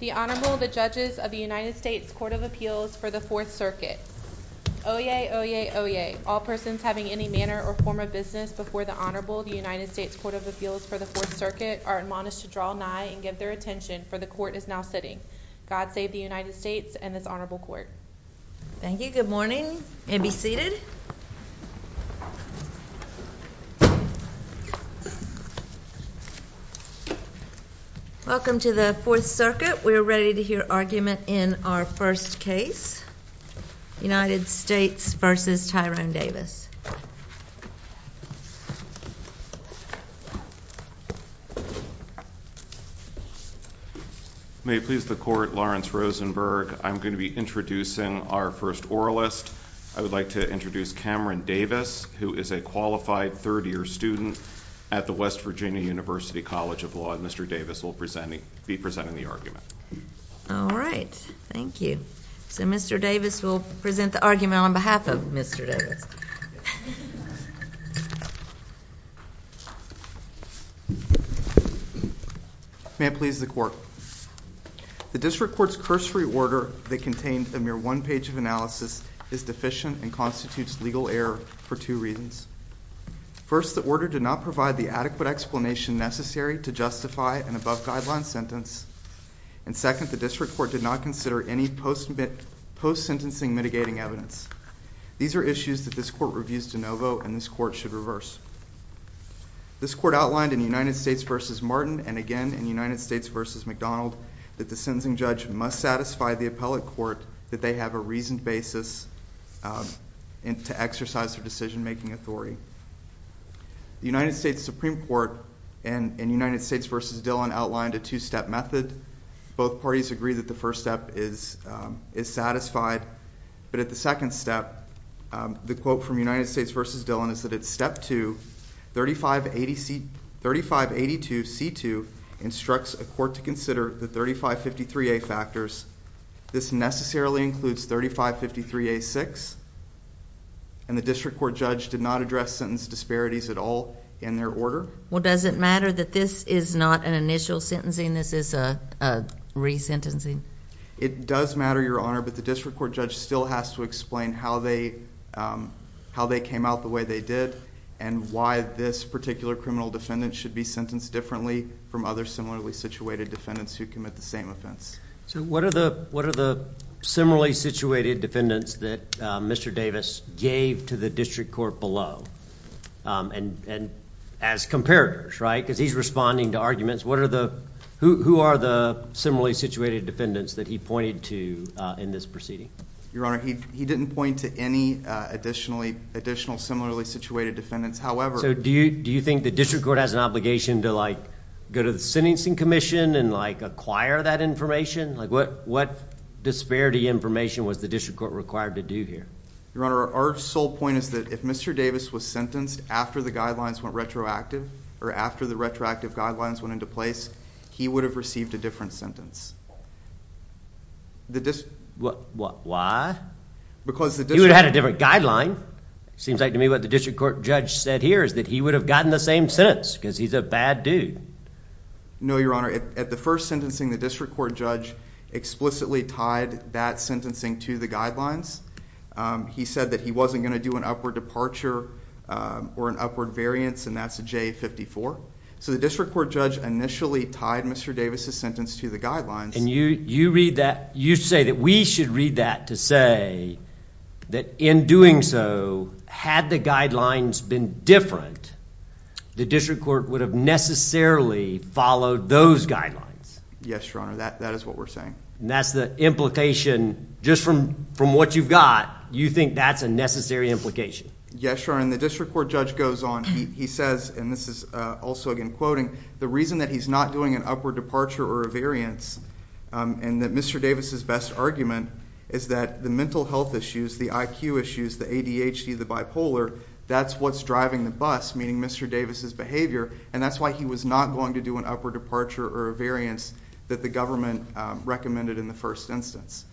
The Honorable, the Judges of the United States Court of Appeals for the Fourth Circuit. Oyez! Oyez! Oyez! All persons having any manner or form of business before the Honorable, the United States Court of Appeals for the Fourth Circuit, are admonished to draw nigh and give their attention, for the Court is now sitting. God save the United States and this Honorable Court. Thank you. Good morning. And be seated. Welcome to the Fourth Circuit. We're ready to hear argument in our first case, United States v. Tyrone Davis. May it please the Court, Lawrence Rosenberg. I'm going to be introducing our first oralist. I would like to introduce Cameron Davis, who is a qualified third-year student at the West Virginia University College of Law. Mr. Davis will be presenting the argument. All right. Thank you. So Mr. Davis will present the argument on behalf of Mr. Davis. May it please the Court. The District Court's cursory order that contained a mere one page of analysis is deficient and constitutes legal error for two reasons. First, the order did not provide the adequate explanation necessary to justify an above-guideline sentence. And second, the District Court did not consider any post-sentencing mitigating evidence. These are issues that this Court reviews de novo and this Court should reverse. This Court outlined in United States v. Martin and again in United States v. McDonald that the sentencing judge must satisfy the appellate court that they have a reasoned basis to exercise their decision-making authority. The United States Supreme Court in United States v. Dillon outlined a two-step method. Both parties agree that the first step is satisfied, but at the second step, the quote from United States v. Dillon is that at step two, 3582C2 instructs a court to consider the 3553A factors. This necessarily includes 3553A6. And the District Court judge did not address sentence disparities at all in their order. Well, does it matter that this is not an initial sentencing? This is a resentencing? It does matter, Your Honor, but the District Court judge still has to explain how they came out the way they did and why this particular criminal defendant should be sentenced differently from other similarly situated defendants who commit the same offense. So what are the similarly situated defendants that Mr. Davis gave to the District Court below? And as comparators, right, because he's responding to arguments, who are the similarly situated defendants that he pointed to in this proceeding? Your Honor, he didn't point to any additional similarly situated defendants. So do you think the District Court has an obligation to go to the Sentencing Commission and acquire that information? What disparity information was the District Court required to do here? Your Honor, our sole point is that if Mr. Davis was sentenced after the guidelines went retroactive or after the retroactive guidelines went into place, he would have received a different sentence. Why? Because the District Court... He would have had a different guideline. It seems like to me what the District Court judge said here is that he would have gotten the same sentence because he's a bad dude. No, Your Honor, at the first sentencing, the District Court judge explicitly tied that sentencing to the guidelines. He said that he wasn't going to do an upward departure or an upward variance, and that's a J-54. So the District Court judge initially tied Mr. Davis' sentence to the guidelines. And you read that, you say that we should read that to say that in doing so, had the guidelines been different, the District Court would have necessarily followed those guidelines? Yes, Your Honor, that is what we're saying. That's the implication, just from what you've got, you think that's a necessary implication? Yes, Your Honor. When the District Court judge goes on, he says, and this is also again quoting, the reason that he's not doing an upward departure or a variance, and that Mr. Davis' best argument is that the mental health issues, the IQ issues, the ADHD, the bipolar, that's what's driving the bus, meaning Mr. Davis' behavior, and that's why he was not going to do an upward departure or a variance that the government recommended in the first instance.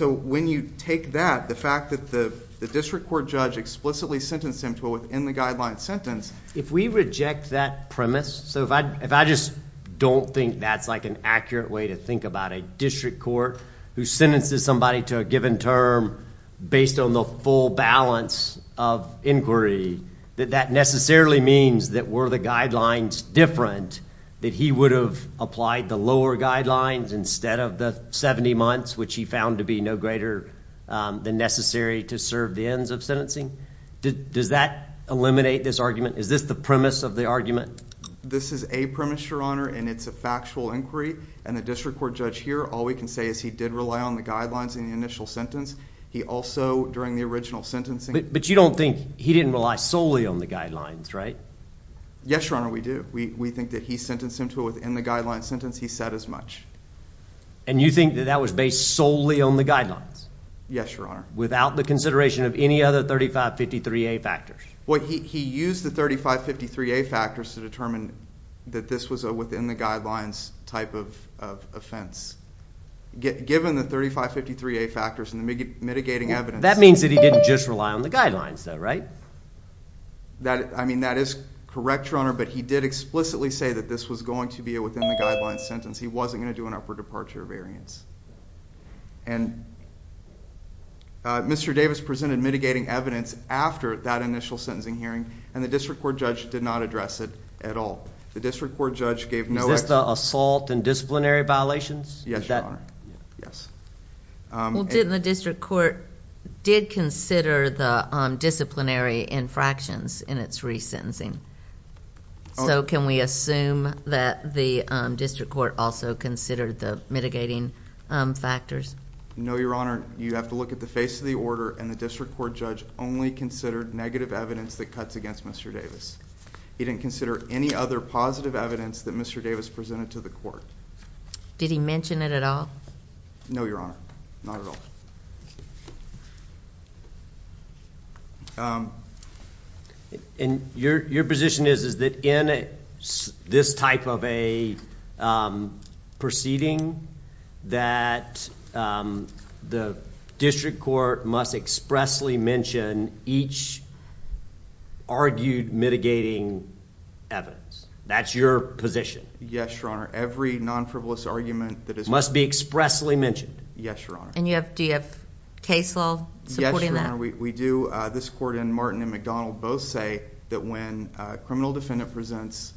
When you take that, the fact that the District Court judge explicitly sentenced him to a within-the-guidelines sentence... If we reject that premise, so if I just don't think that's an accurate way to think about it, a District Court who sentences somebody to a given term based on the full balance of inquiry, that that necessarily means that were the guidelines different, that he would have applied the lower guidelines instead of the 70 months, which he found to be no greater than necessary to serve the ends of sentencing? Does that eliminate this argument? Is this the premise of the argument? This is a premise, Your Honor, and it's a factual inquiry, and the District Court judge here, all we can say is he did rely on the guidelines in the initial sentence. He also, during the original sentencing... But you don't think he didn't rely solely on the guidelines, right? Yes, Your Honor, we do. We think that he sentenced him to a within-the-guidelines sentence. He said as much. And you think that that was based solely on the guidelines? Yes, Your Honor. Without the consideration of any other 3553A factors? Well, he used the 3553A factors to determine that this was a within-the-guidelines type of offense. Given the 3553A factors and the mitigating evidence... That means that he didn't just rely on the guidelines, though, right? I mean, that is correct, Your Honor, but he did explicitly say that this was going to be a within-the-guidelines sentence. He wasn't going to do an upward departure variance. And Mr. Davis presented mitigating evidence after that initial sentencing hearing and the district court judge did not address it at all. The district court judge gave no... Is this the assault and disciplinary violations? Yes, Your Honor. Yes. Well, didn't the district court... did consider the disciplinary infractions in its re-sentencing? So, can we assume that the district court also considered the mitigating factors? No, Your Honor. You have to look at the face of the order and the district court judge only considered negative evidence that cuts against Mr. Davis. He didn't consider any other positive evidence that Mr. Davis presented to the court. Did he mention it at all? No, Your Honor, not at all. Your position is that in this type of a proceeding that the district court must expressly mention each argued mitigating evidence? That's your position? Yes, Your Honor. Every non-frivolous argument that is... Must be expressly mentioned? Yes, Your Honor. Do you have case law supporting that? Yes, Your Honor. We do. This court and Martin and McDonald both say that when a criminal defendant presents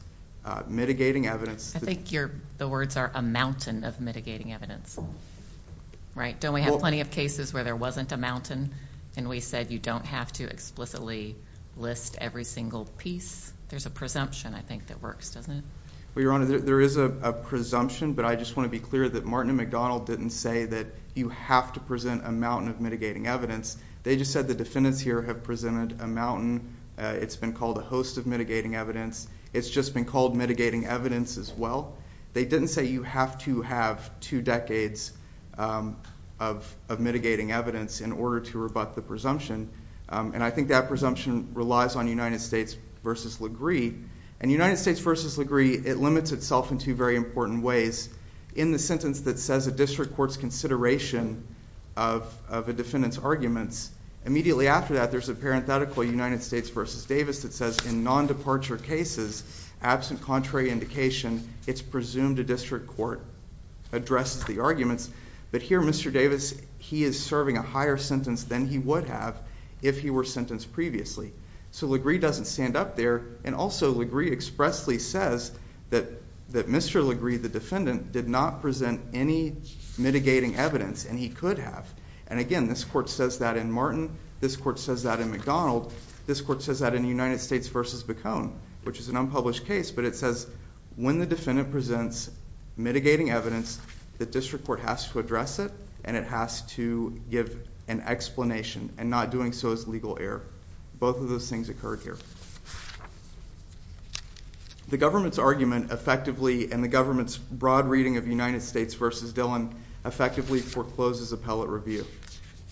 mitigating evidence... I think the words are a mountain of mitigating evidence. Right? Don't we have plenty of cases where there wasn't a mountain and we said you don't have to explicitly list every single piece? There's a presumption, I think, that works, doesn't it? Well, Your Honor, there is a presumption, but I just want to be clear that Martin and McDonald didn't say that you have to present a mountain of mitigating evidence. They just said the defendants here have presented a mountain. It's been called a host of mitigating evidence. It's just been called mitigating evidence as well. They didn't say you have to have two decades of mitigating evidence in order to rebut the I think that presumption relies on United States v. United States v. LaGree, it limits itself in two very important ways. In the sentence that says a district court's consideration of a defendant's arguments, immediately after that there's a parenthetical United States v. Davis that says in non-departure cases, absent contrary indication, it's presumed a district court addressed the arguments, but here Mr. Davis, he is serving a higher sentence than he would have if he were sentenced previously. So LaGree doesn't stand up there and also LaGree expressly says that Mr. LaGree, the defendant, did not present any mitigating evidence and he could have. Again, this court says that in Martin, this court says that in McDonald, this court says that in United States v. Bacone, which is an unpublished case, but it says when the defendant presents mitigating evidence, the district court has to address it and it has to give an explanation and not doing so is legal error. Both of those things occurred here. The government's argument effectively and the government's broad reading of United States v. Dillon effectively forecloses appellate review.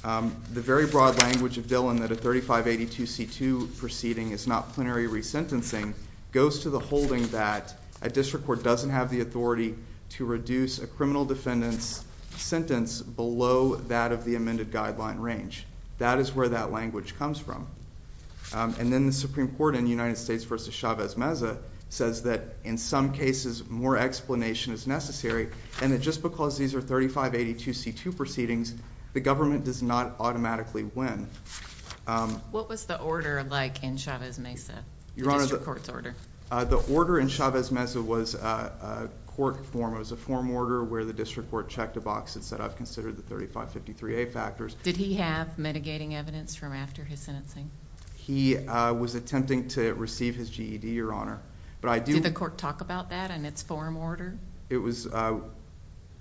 The very broad language of Dillon that a 3582C2 proceeding is not plenary resentencing goes to the holding that a district court doesn't have the authority to reduce a criminal defendant's sentence below that of the amended guideline range. That is where that language comes from. Then the Supreme Court in United States v. Chavez-Mesa says that in some cases more explanation is necessary and that just because these are 3582C2 proceedings, the government does not automatically win. What was the order like in Chavez-Mesa, the district court's order? The order in Chavez-Mesa was a court form, it was a form order where the district court checked a box and said, I've considered the 3553A factors... Did he have mitigating evidence from after his sentencing? He was attempting to receive his GED, Your Honor. Did the court talk about that in its form order? It was... no,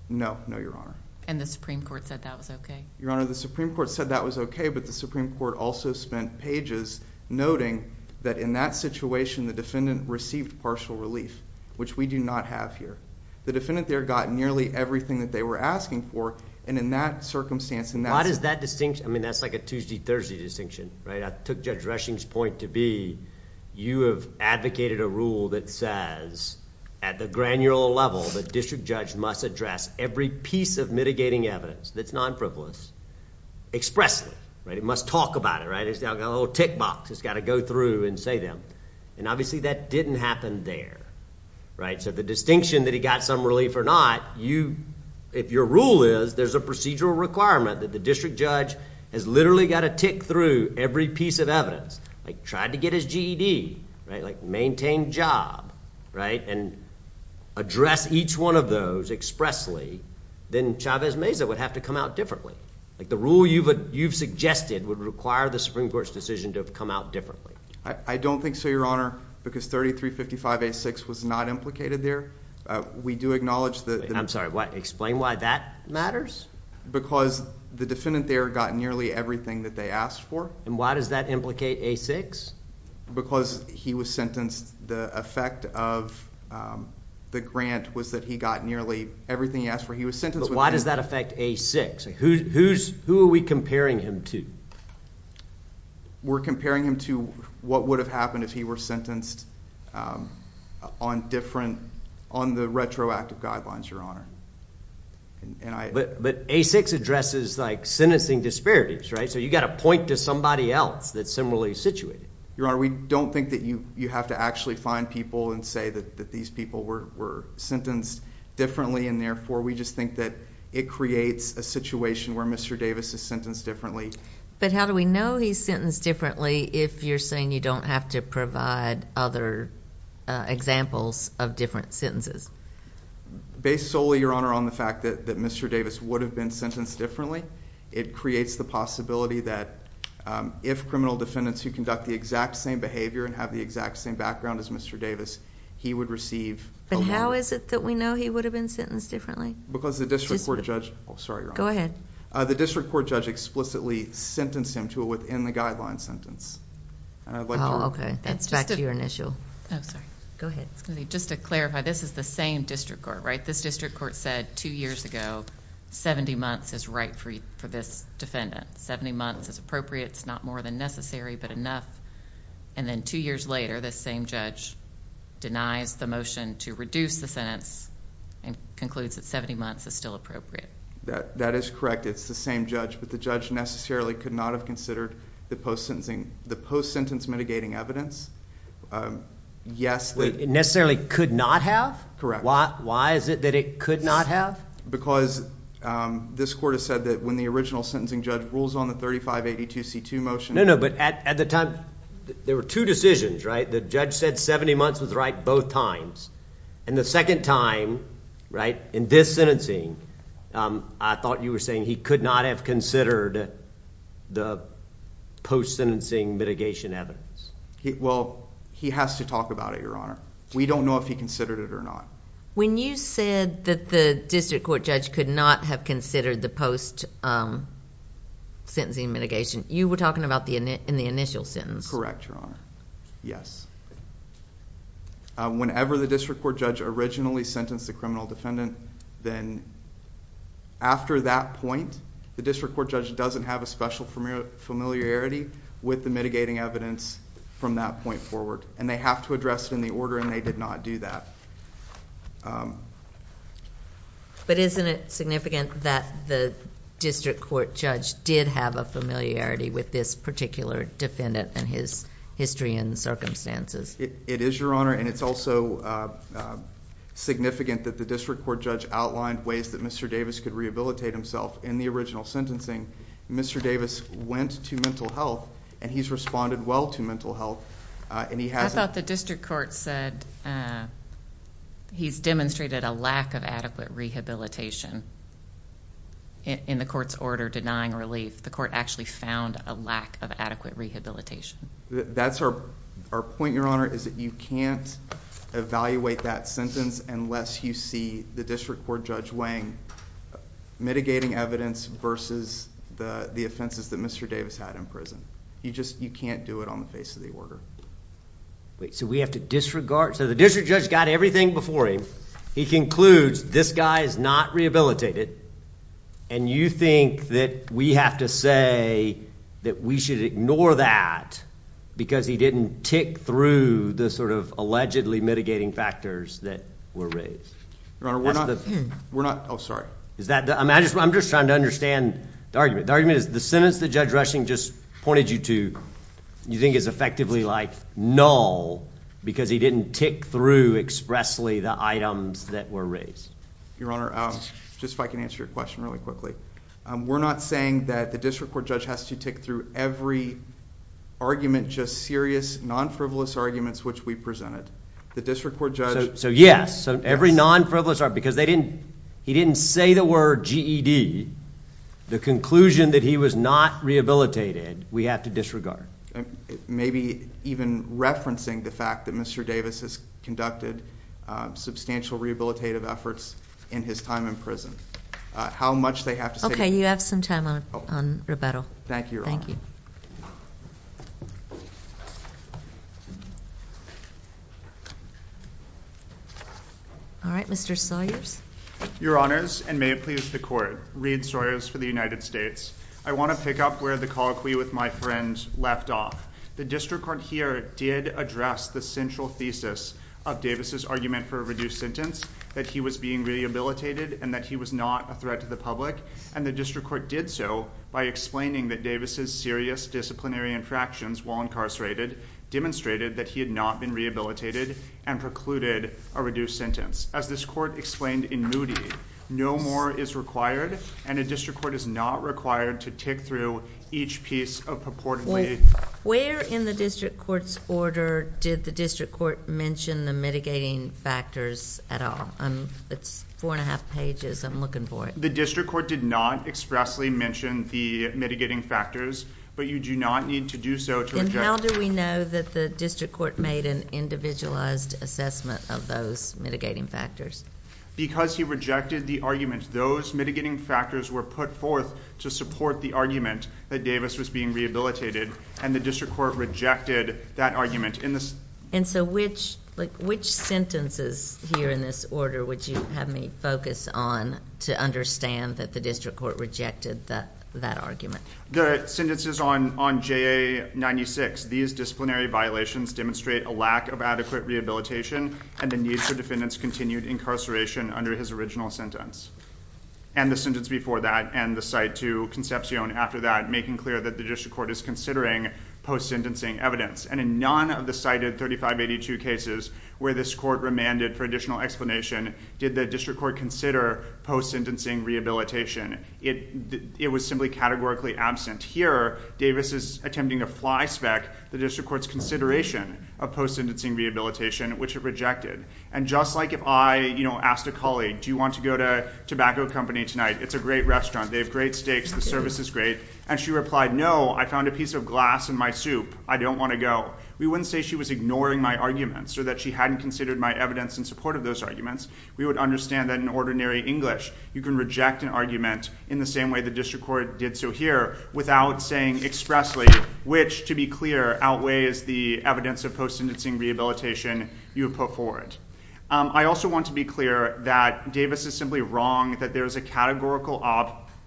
no, Your Honor. The Supreme Court said that was okay? Your Honor, the Supreme Court said that was okay, but the Supreme Court also spent pages noting that in that situation the defendant received partial relief, which we do not have here. The defendant there got nearly everything that they were asking for and in that circumstance... Why does that distinction... I mean, that's like a Tuesday-Thursday distinction, right? I took Judge Reshing's point to be you have advocated a rule that says at the granular level, the district judge must address every piece of mitigating evidence that's non-frivolous expressly, right? It must talk about it, right? It's got a little tick box, it's got to go through and say them. Obviously, that didn't happen there, right? The distinction that he got some relief or not, if your rule is there's a district judge has literally got to tick through every piece of evidence, like tried to get his GED, right, like maintain job, right, and address each one of those expressly, then Chavez-Meza would have to come out differently. The rule you've suggested would require the Supreme Court's decision to have come out differently. I don't think so, Your Honor, because 3355A6 was not implicated there. We do acknowledge that... I'm sorry, explain why that matters? Because the defendant there got nearly everything that they asked for... Why does that implicate A6? Because he was sentenced, the effect of the grant was that he got nearly everything he asked for. He was sentenced... Why does that affect A6? Who are we comparing him to? We're comparing him to what would have happened if he were sentenced on different... on the retroactive guidelines, Your Honor. And I... But A6 addresses like sentencing disparities, right? So you've got to point to somebody else that's similarly situated. Your Honor, we don't think that you have to actually find people and say that these people were sentenced differently, and therefore we just think that it creates a situation where Mr. Davis is sentenced differently. But how do we know he's sentenced differently if you're saying you don't have to provide other examples of different sentences? Based solely, Your Honor, on the fact that Mr. Davis would have been sentenced differently, it creates the possibility that if criminal defendants who conduct the exact same behavior and have the exact same background as Mr. Davis, he would receive... But how is it that we know he would have been sentenced differently? Because the district court judge... Oh, sorry, Your Honor. Go ahead. The district court judge explicitly sentenced him to a within the guidelines sentence. And I'd like to... Oh, okay. That's back to your initial... Oh, sorry. Go ahead. Just to clarify, this is the same district court, right? This district court said two years ago, 70 months is right for this defendant. 70 months is appropriate. It's not more than necessary, but enough. And then two years later, this same judge denies the motion to reduce the sentence and concludes that 70 months is still appropriate. That is correct. It's the same judge. But the judge necessarily could not have considered the post-sentencing... the post-sentence mitigating evidence. Yes. It necessarily could not have? Why is it that it could not have? Because this court has said that when the original sentencing judge rules on the 3582C2 motion... No, no. But at the time, there were two decisions, right? The judge said 70 months was right both times. And the second time, right, in this sentencing, I thought you were saying he could not have considered the post-sentencing mitigation evidence. Well, he has to talk about it, Your Honor. We don't know if he considered it or not. When you said that the district court judge could not have considered the post-sentencing mitigation, you were talking about in the initial sentence? Correct, Your Honor. Yes. Whenever the district court judge originally sentenced the criminal defendant, then after that point, the district court judge doesn't have a special familiarity with the mitigating evidence from that point forward. And they have to address it in the order and they did not do that. But isn't it significant that the district court judge did have a familiarity with this particular defendant and his history and circumstances? It is, Your Honor. And it's also significant that the district court judge outlined ways that Mr. Davis could rehabilitate himself in the original sentencing. Mr. Davis went to mental health and he's responded well to mental health. I thought the district court said he's demonstrated a lack of adequate rehabilitation in the court's order denying relief. The court actually found a lack of adequate rehabilitation. That's our point, Your Honor, is that you can't evaluate that sentence unless you see the district court judge weighing mitigating evidence versus the offenses that Mr. Davis had in prison. You can't do it on the face of the order. Wait. So we have to disregard? So the district judge got everything before him. He concludes this guy is not rehabilitated and you think that we have to say that we should ignore that because he didn't tick through the sort of allegedly mitigating factors that were raised? Your Honor, we're not. We're not. Oh, sorry. I'm just trying to understand the argument. The argument is the sentence that Judge Rushing just pointed you to you think is effectively like null because he didn't tick through expressly the items that were raised. Your Honor, just if I can answer your question really quickly. We're not saying that the district court judge has to tick through every argument just serious non-frivolous arguments which we presented. The district court judge. So yes. Every non-frivolous argument because he didn't say the word GED. The conclusion that he was not rehabilitated we have to disregard. Maybe even referencing the fact that Mr. Davis has conducted substantial rehabilitative efforts in his time in prison. How much they have to say. Okay. You have some time on rebuttal. Thank you, Your Honor. Thank you. All right. Mr. Sawyers. Your Honors and may it please the court. Reed Sawyers for the United States. I want to pick up where the colloquy with my friend left off. The district court here did address the central thesis of Davis' argument for a reduced sentence that he was being rehabilitated and that he was not a threat to the public and the district court did so by explaining that Davis' serious disciplinary infractions while incarcerated demonstrated that he had not been rehabilitated and precluded a reduced sentence. As this court explained in Moody, no more is required and a district court is not required to tick through each piece of purportedly... Well, where in the district court's order did the district court mention the mitigating factors at all? It's four and a half pages. I'm looking for it. The district court did not expressly mention the mitigating factors, but you do not need to do so to... How do we know that the district court made an individualized assessment of those mitigating factors? Because he rejected the argument. Those mitigating factors were put forth to support the argument that Davis was being rehabilitated and the district court rejected that argument. And so, which sentences here in this order would you have me focus on to understand that the district court rejected that argument? The sentences on JA-96, these disciplinary violations demonstrate a lack of adequate rehabilitation and the need for defendants' continued incarceration under his original sentence. And the sentence before that and the cite to Concepcion after that making clear that the district court is considering post-sentencing evidence and in none of the cited 3582 cases where this court remanded for additional explanation did the district court consider post-sentencing rehabilitation. It was simply categorically absent. Here, Davis is attempting to fly spec the district court's consideration of post-sentencing rehabilitation, which it rejected. And just like if I, you know, asked a colleague, do you want to go to a tobacco company tonight? It's a great restaurant. They have great steaks. The service is great. And she replied, no, I found a piece of glass in my soup. I don't want to go. We wouldn't say she was ignoring my arguments or that she hadn't considered my evidence in support of those arguments. We would understand that in ordinary English you can reject an argument in the same way the district court did. So here without saying expressly, which to be clear, outweighs the evidence of post-sentencing rehabilitation, you would put forward. I also want to be clear that Davis is simply wrong, that there is a categorical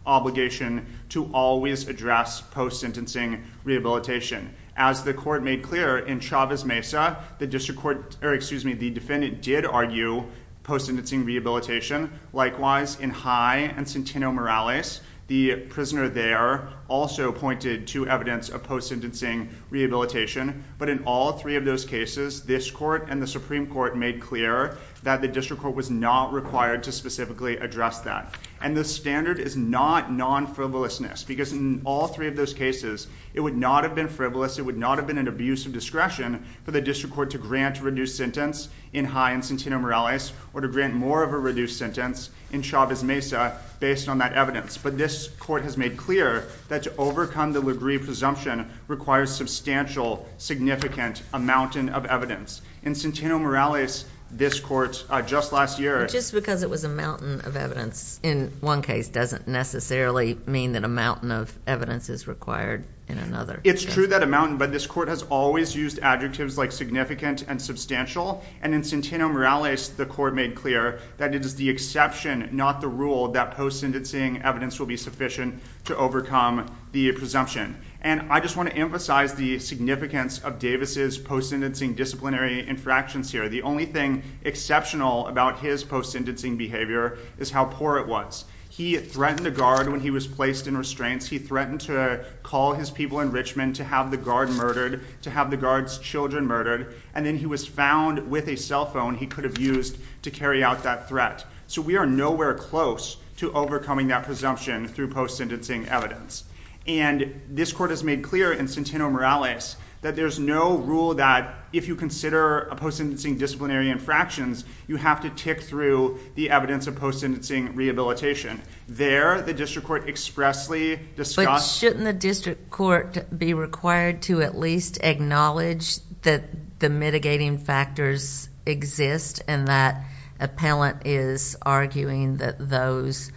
obligation to always address post-sentencing rehabilitation. As the court made clear in Chavez Mesa, the district court, or excuse me, the defendant did argue post-sentencing rehabilitation. Likewise, in High and Centeno Morales, the prisoner there also pointed to evidence of post-sentencing rehabilitation. But in all three of those cases, this court and the Supreme Court made clear that the district court was not required to specifically address that. And the standard is not non-frivolousness. Because in all three of those cases, it would not have been frivolous. It would not have been an abuse of discretion for the district court to grant a reduced sentence in High and Centeno Morales or to grant more of a reduced sentence in Chavez Mesa, based on that evidence. But this court has made clear that to overcome the Lugree presumption requires substantial, significant, a mountain of evidence. In Centeno Morales, this court, just last year. But just because it was a mountain of evidence in one case doesn't necessarily mean that a mountain of evidence is required in another case. It's true that a mountain, but this court has always used adjectives like significant and substantial. And in Centeno Morales, the court made clear that it is the exception, not the rule, that post-sentencing evidence will be sufficient to overcome the presumption. And I just want to emphasize the significance of Davis's post-sentencing disciplinary infractions here. The only thing exceptional about his post-sentencing behavior is how poor it was. He threatened a guard when he was placed in restraints. He threatened to call his people in Richmond to have the guard murdered, to have the guard's children murdered. And then he was found with a cell phone he could have used to carry out that threat. So we are nowhere close to overcoming that presumption through post-sentencing evidence. And this court has made clear in Centeno Morales that there's no rule that if you consider a post-sentencing disciplinary infractions, you have to tick through the evidence of post-sentencing rehabilitation. There, the district court expressly discussed... But shouldn't the district court be required to at least acknowledge that the mitigating factors exist and that appellant is arguing that those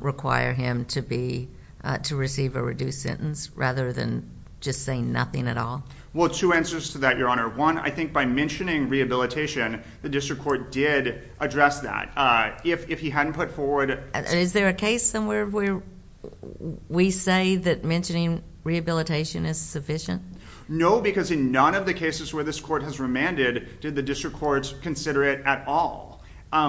require him to be... to receive a reduced sentence rather than just saying nothing at all? Well, two answers to that, Your Honor. One, I think by mentioning rehabilitation, the district court did address that. If he hadn't put forward... Is there a case somewhere where we say that mentioning rehabilitation is sufficient? No, because in none of the cases where this court has remanded did the district court consider it at all.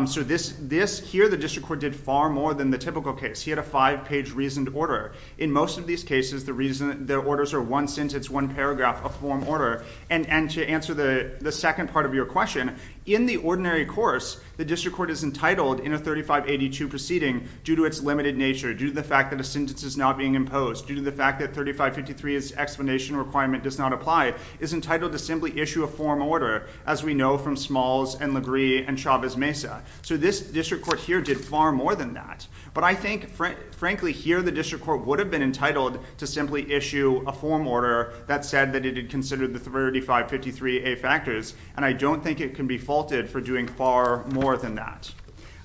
So this... Here, the district court did far more than the typical case. He had a five-page reasoned order. In most of these cases, the reason... the orders are one sentence, one paragraph of form order. And to answer the second part of your question, in the ordinary course, the district court is entitled in a 3582 proceeding due to its limited nature, due to the fact that a sentence is not being imposed, due to the fact that 3553's explanation requirement does not apply, is entitled to simply issue a form order, as we know from Smalls and Legree and Chavez-Mesa. So this district court here did far more than that. But I think, frankly, here the district court would have been entitled to simply issue a form order that said that it had considered the 3553A factors, and I don't think it can be faulted for doing far more than that.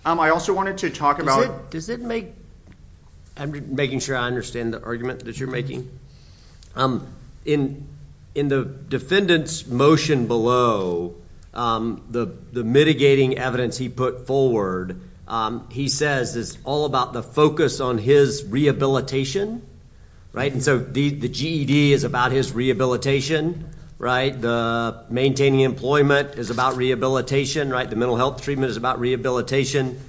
I also wanted to talk about... Does it make... I'm making sure I understand the argument that you're making. In the defendant's motion below, the mitigating evidence he put forward, he says it's all about the focus on his rehabilitation, right? And so the GED is about his rehabilitation, right? The maintaining employment is about rehabilitation, right? The mental health treatment is about rehabilitation.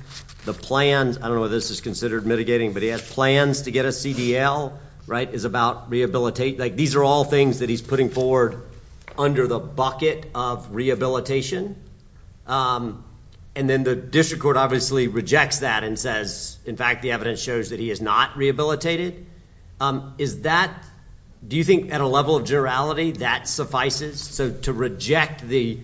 The plans, I don't know if this is considered mitigating, but he has plans to get a CDL, right, is about rehabilitation. These are all things that he's putting forward under the bucket of rehabilitation. And then the district court obviously rejects that and says, in fact, the evidence shows that he is not rehabilitated. Is that... Do you think, at a level of generality, that suffices? So to reject the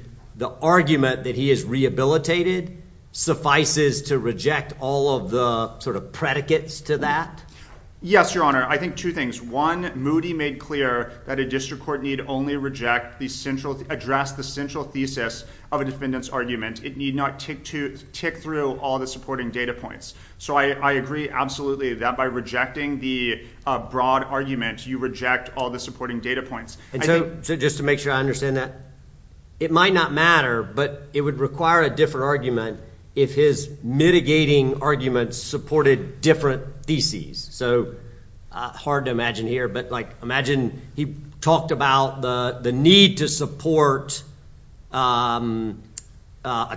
argument that he is rehabilitated suffices to reject all of the sort of predicates to that? Yes, Your Honor. I think two things. One, Moody made clear that a district court need only reject the central... address the central thesis of a defendant's argument. It need not tick through all the supporting data points. So I agree absolutely that by rejecting the broad argument, you reject all the supporting data points. And so, just to make sure I understand that, it might not matter, but it would require a different argument if his mitigating argument supported different theses. So, hard to imagine here, but, like, imagine he talked about the need to support a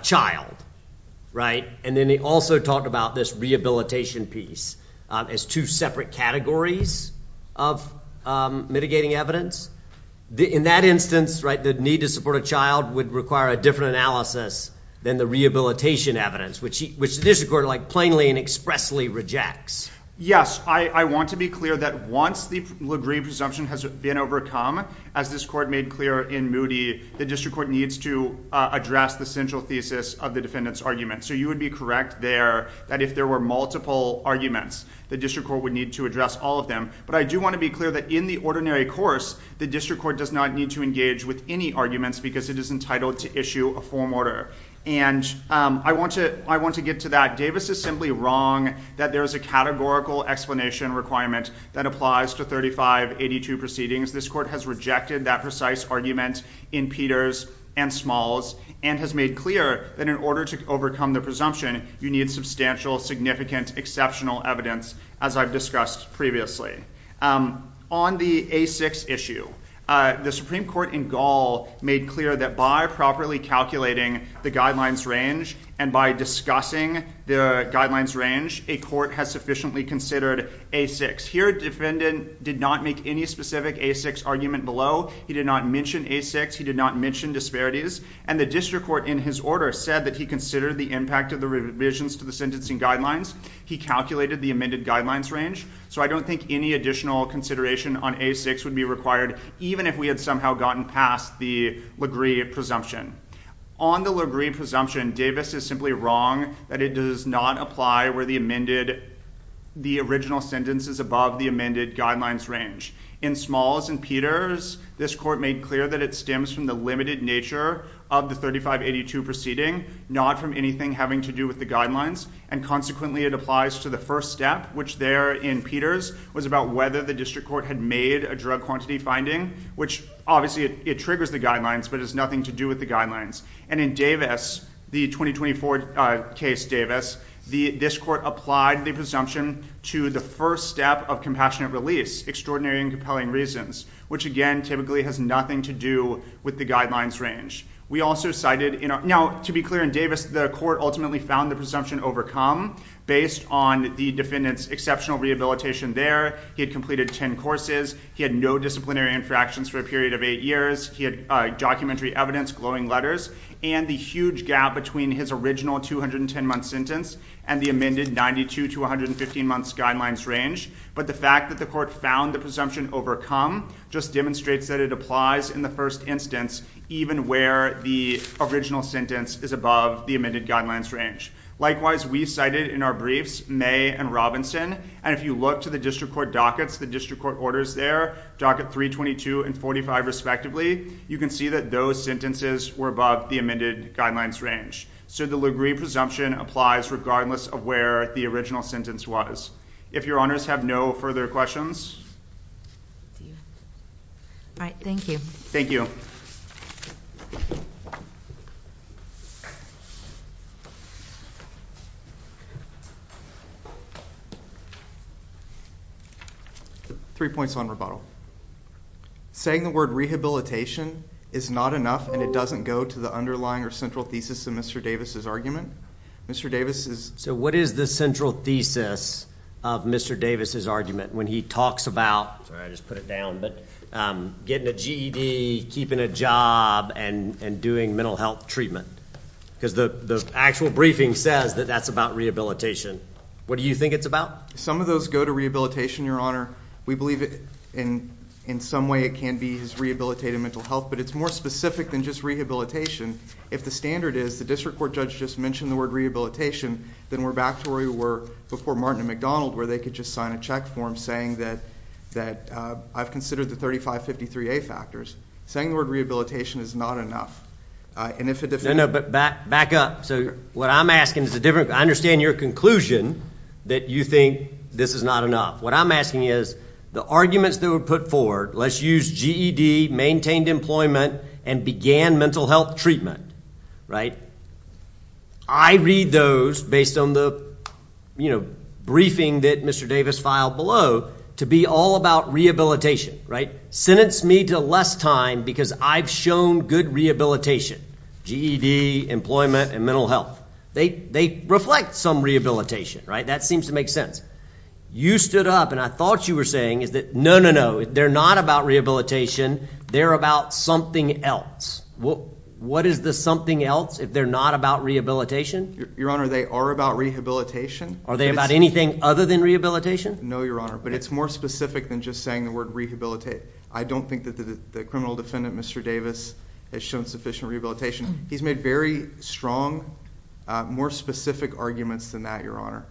child, right? And then he also talked about this rehabilitation piece as two separate categories of mitigating evidence. In that instance, right, the need to support a child would require a different analysis than the rehabilitation evidence, which the district court, like, plainly and expressly rejects. Yes. I want to be clear that once the Lagree presumption has been overcome, as this court made clear in Moody, the district court needs to address the central thesis of the defendant's argument. So you would be correct there that if there were multiple arguments, the district court would need to address all of them. But I do want to be clear that in the ordinary course, the district court does not need to engage with any arguments because it is entitled to issue a form order. And I want to get to that. Davis is simply wrong that there is a categorical explanation requirement that applies to 3582 proceedings. This court has rejected that precise argument in Peters and Smalls and has made clear that in order to overcome the presumption, you need substantial, significant, exceptional evidence, as I've discussed previously. On the A6 issue, the Supreme Court in Gall made clear that by properly calculating the guidelines range and by discussing the guidelines range, a court has sufficiently considered A6. Here, defendant did not make any specific A6 argument below. He did not mention A6. He did not mention disparities. And the district court, in his order, said that he considered the impact of the revisions to the sentencing guidelines. He calculated the amended guidelines range. So I don't think any additional consideration on A6 would be required, even if we had somehow gotten past the LaGree presumption. On the LaGree presumption, Davis is simply wrong that it does not apply where the amended... the original sentence is above the amended guidelines range. In Smalls and Peters, this court made clear that it stems from the limited nature of the 3582 proceeding, not from anything having to do with the guidelines. And consequently, it applies to the first step, which there in Peters was about whether the district court had made a drug quantity finding, which, obviously, it triggers the guidelines, but it has nothing to do with the guidelines. And in Davis, the 2024 case, Davis, this court applied the presumption to the first step of compassionate release, extraordinary and compelling reasons, which, again, typically has nothing to do with the guidelines range. We also cited... Now, to be clear, in Davis, the court ultimately found the presumption overcome based on the defendant's exceptional rehabilitation there. He had completed ten courses. He had no disciplinary infractions for a period of eight years. He had documentary evidence, glowing letters, and the huge gap between his original 210-month sentence and the amended 92- to 115-month guidelines range. But the fact that the court found the presumption overcome just demonstrates that it applies in the first instance, even where the original sentence is above the amended guidelines range. Likewise, we cited in our briefs May and Robinson, and if you look to the district court dockets, the district court orders there, docket 322 and 45, respectively, you can see that those sentences were above the amended guidelines range. So the Lugree presumption applies regardless of where the original sentence was. If your honors have no further questions... All right, thank you. Thank you. Three points on rebuttal. Saying the word rehabilitation is not enough and it doesn't go to the underlying or central thesis of Mr. Davis' argument. Mr. Davis is... So what is the central thesis of Mr. Davis' argument when he talks about, sorry, I just put it down, but getting a GED, keeping a job, and doing mental health treatment? Because the actual briefing says that that's about rehabilitation. What do you think it's about? Some of those go to rehabilitation, Your Honor. We believe in some way it can be his rehabilitative mental health, but it's more specific than just rehabilitation. If the standard is the district court judge just mentioned the word rehabilitation, then we're back to where we were before Martin and McDonald where they could just sign a check form saying that I've considered the 3553A factors. Saying the word rehabilitation is not enough. No, no, but back up. So what I'm asking is a different... I understand your conclusion that you think this is not enough. What I'm asking is the arguments that were put forward, let's use GED, maintained employment, and began mental health treatment, right? I read those based on the, you know, briefing that Mr. Davis filed below to be all about rehabilitation, right? Sentence me to less time because I've shown good rehabilitation. GED, employment, and mental health. They reflect some rehabilitation, right? That seems to make sense. You stood up and I thought you were saying is that no, no, no, they're not about rehabilitation. They're about something else. What is the something else if they're not about rehabilitation? Your Honor, they are about rehabilitation. Are they about anything other than rehabilitation? No, Your Honor, but it's more specific than just saying the word rehabilitate. I don't think that the criminal defendant, Mr. Davis, has shown sufficient rehabilitation. He's made very strong, more specific arguments than that, Your Honor.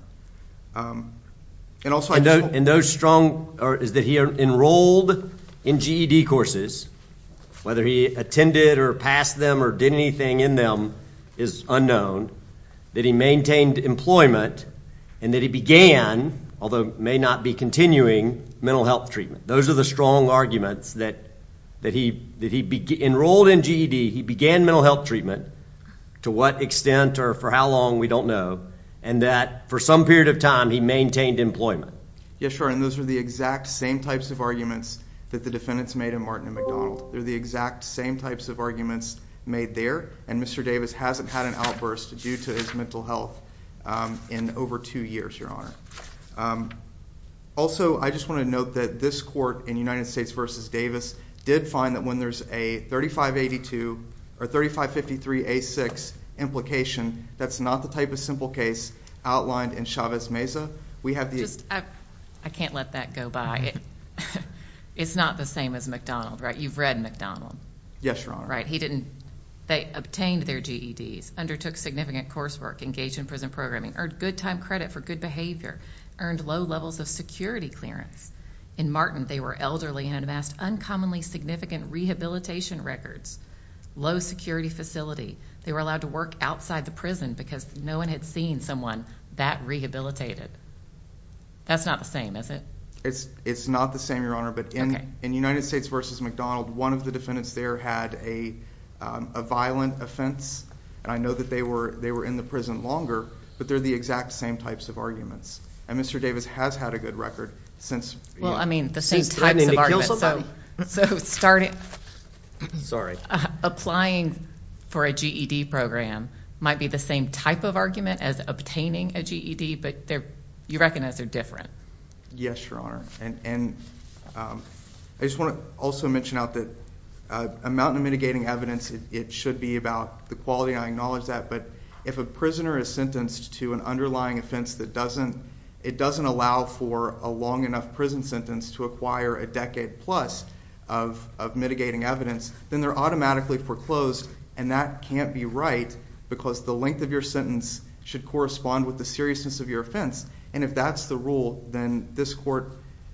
And also... And those strong... is that he enrolled in GED courses, whether he attended or passed them or did anything in them is unknown, that he maintained employment, and that he began, although may not be continuing, mental health treatment. Those are the strong arguments that he enrolled in GED, he began mental health treatment, to what extent or for how long, we don't know, and that for some period of time he maintained employment. Yes, Your Honor, and those are the exact same types of arguments that the defendants made in Martin and McDonald. They're the exact same types of arguments made there, and Mr. Davis hasn't had an outburst due to his mental health in over two years, Your Honor. Also, I just want to note that this court in United States v. Davis did find that when there's a 3553A6 implication, that's not the type of simple case outlined in Chavez Meza. I can't let that go by. It's not the same as McDonald, right? You've read McDonald. Yes, Your Honor. They obtained their GEDs, undertook significant coursework, engaged in prison programming, earned good time credit for good behavior, earned low levels of security clearance. In Martin, they were elderly and amassed uncommonly significant rehabilitation records, low security facility. They were allowed to work outside the prison because no one had seen someone that rehabilitated. That's not the same, is it? It's not the same, Your Honor, but in United States v. McDonald, one of the defendants there had a violent offense, and I know that they were in the prison longer, but they're the exact same types of arguments. And Mr. Davis has had a good record since threatening to kill somebody. Sorry. Applying for a GED program might be the same type of argument as obtaining a GED, but you recognize they're different. Yes, Your Honor. I just want to also mention out that amount of mitigating evidence, it should be about the quality, and I acknowledge that, but if a prisoner is sentenced to an underlying offense that doesn't allow for a long enough prison sentence to acquire a decade plus of mitigating evidence, then they're automatically foreclosed, and that can't be right because the length of your sentence should correspond with the seriousness of your offense. And if that's the rule, then this court,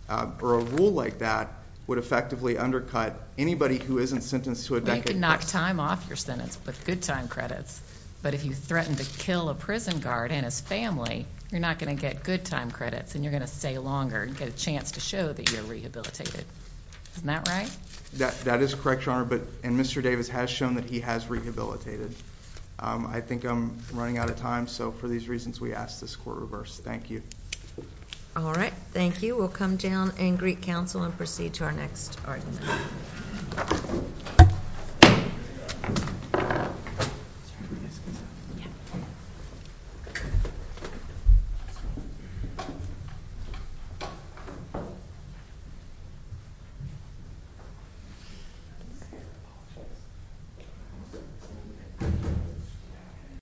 or a rule like that, would effectively undercut anybody who isn't sentenced to a decade plus. They can knock time off your sentence with good time credits, but if you threaten to kill a prison guard and his family, you're not going to get good time credits, and you're going to stay longer and get a chance to show that you're rehabilitated. Isn't that right? That is correct, Your Honor, and Mr. Davis has shown that he has rehabilitated. I think I'm running out of time, so for these reasons, we ask this court reverse. Thank you. All right. Thank you. We'll come down and greet counsel and proceed to our next argument. Thank you.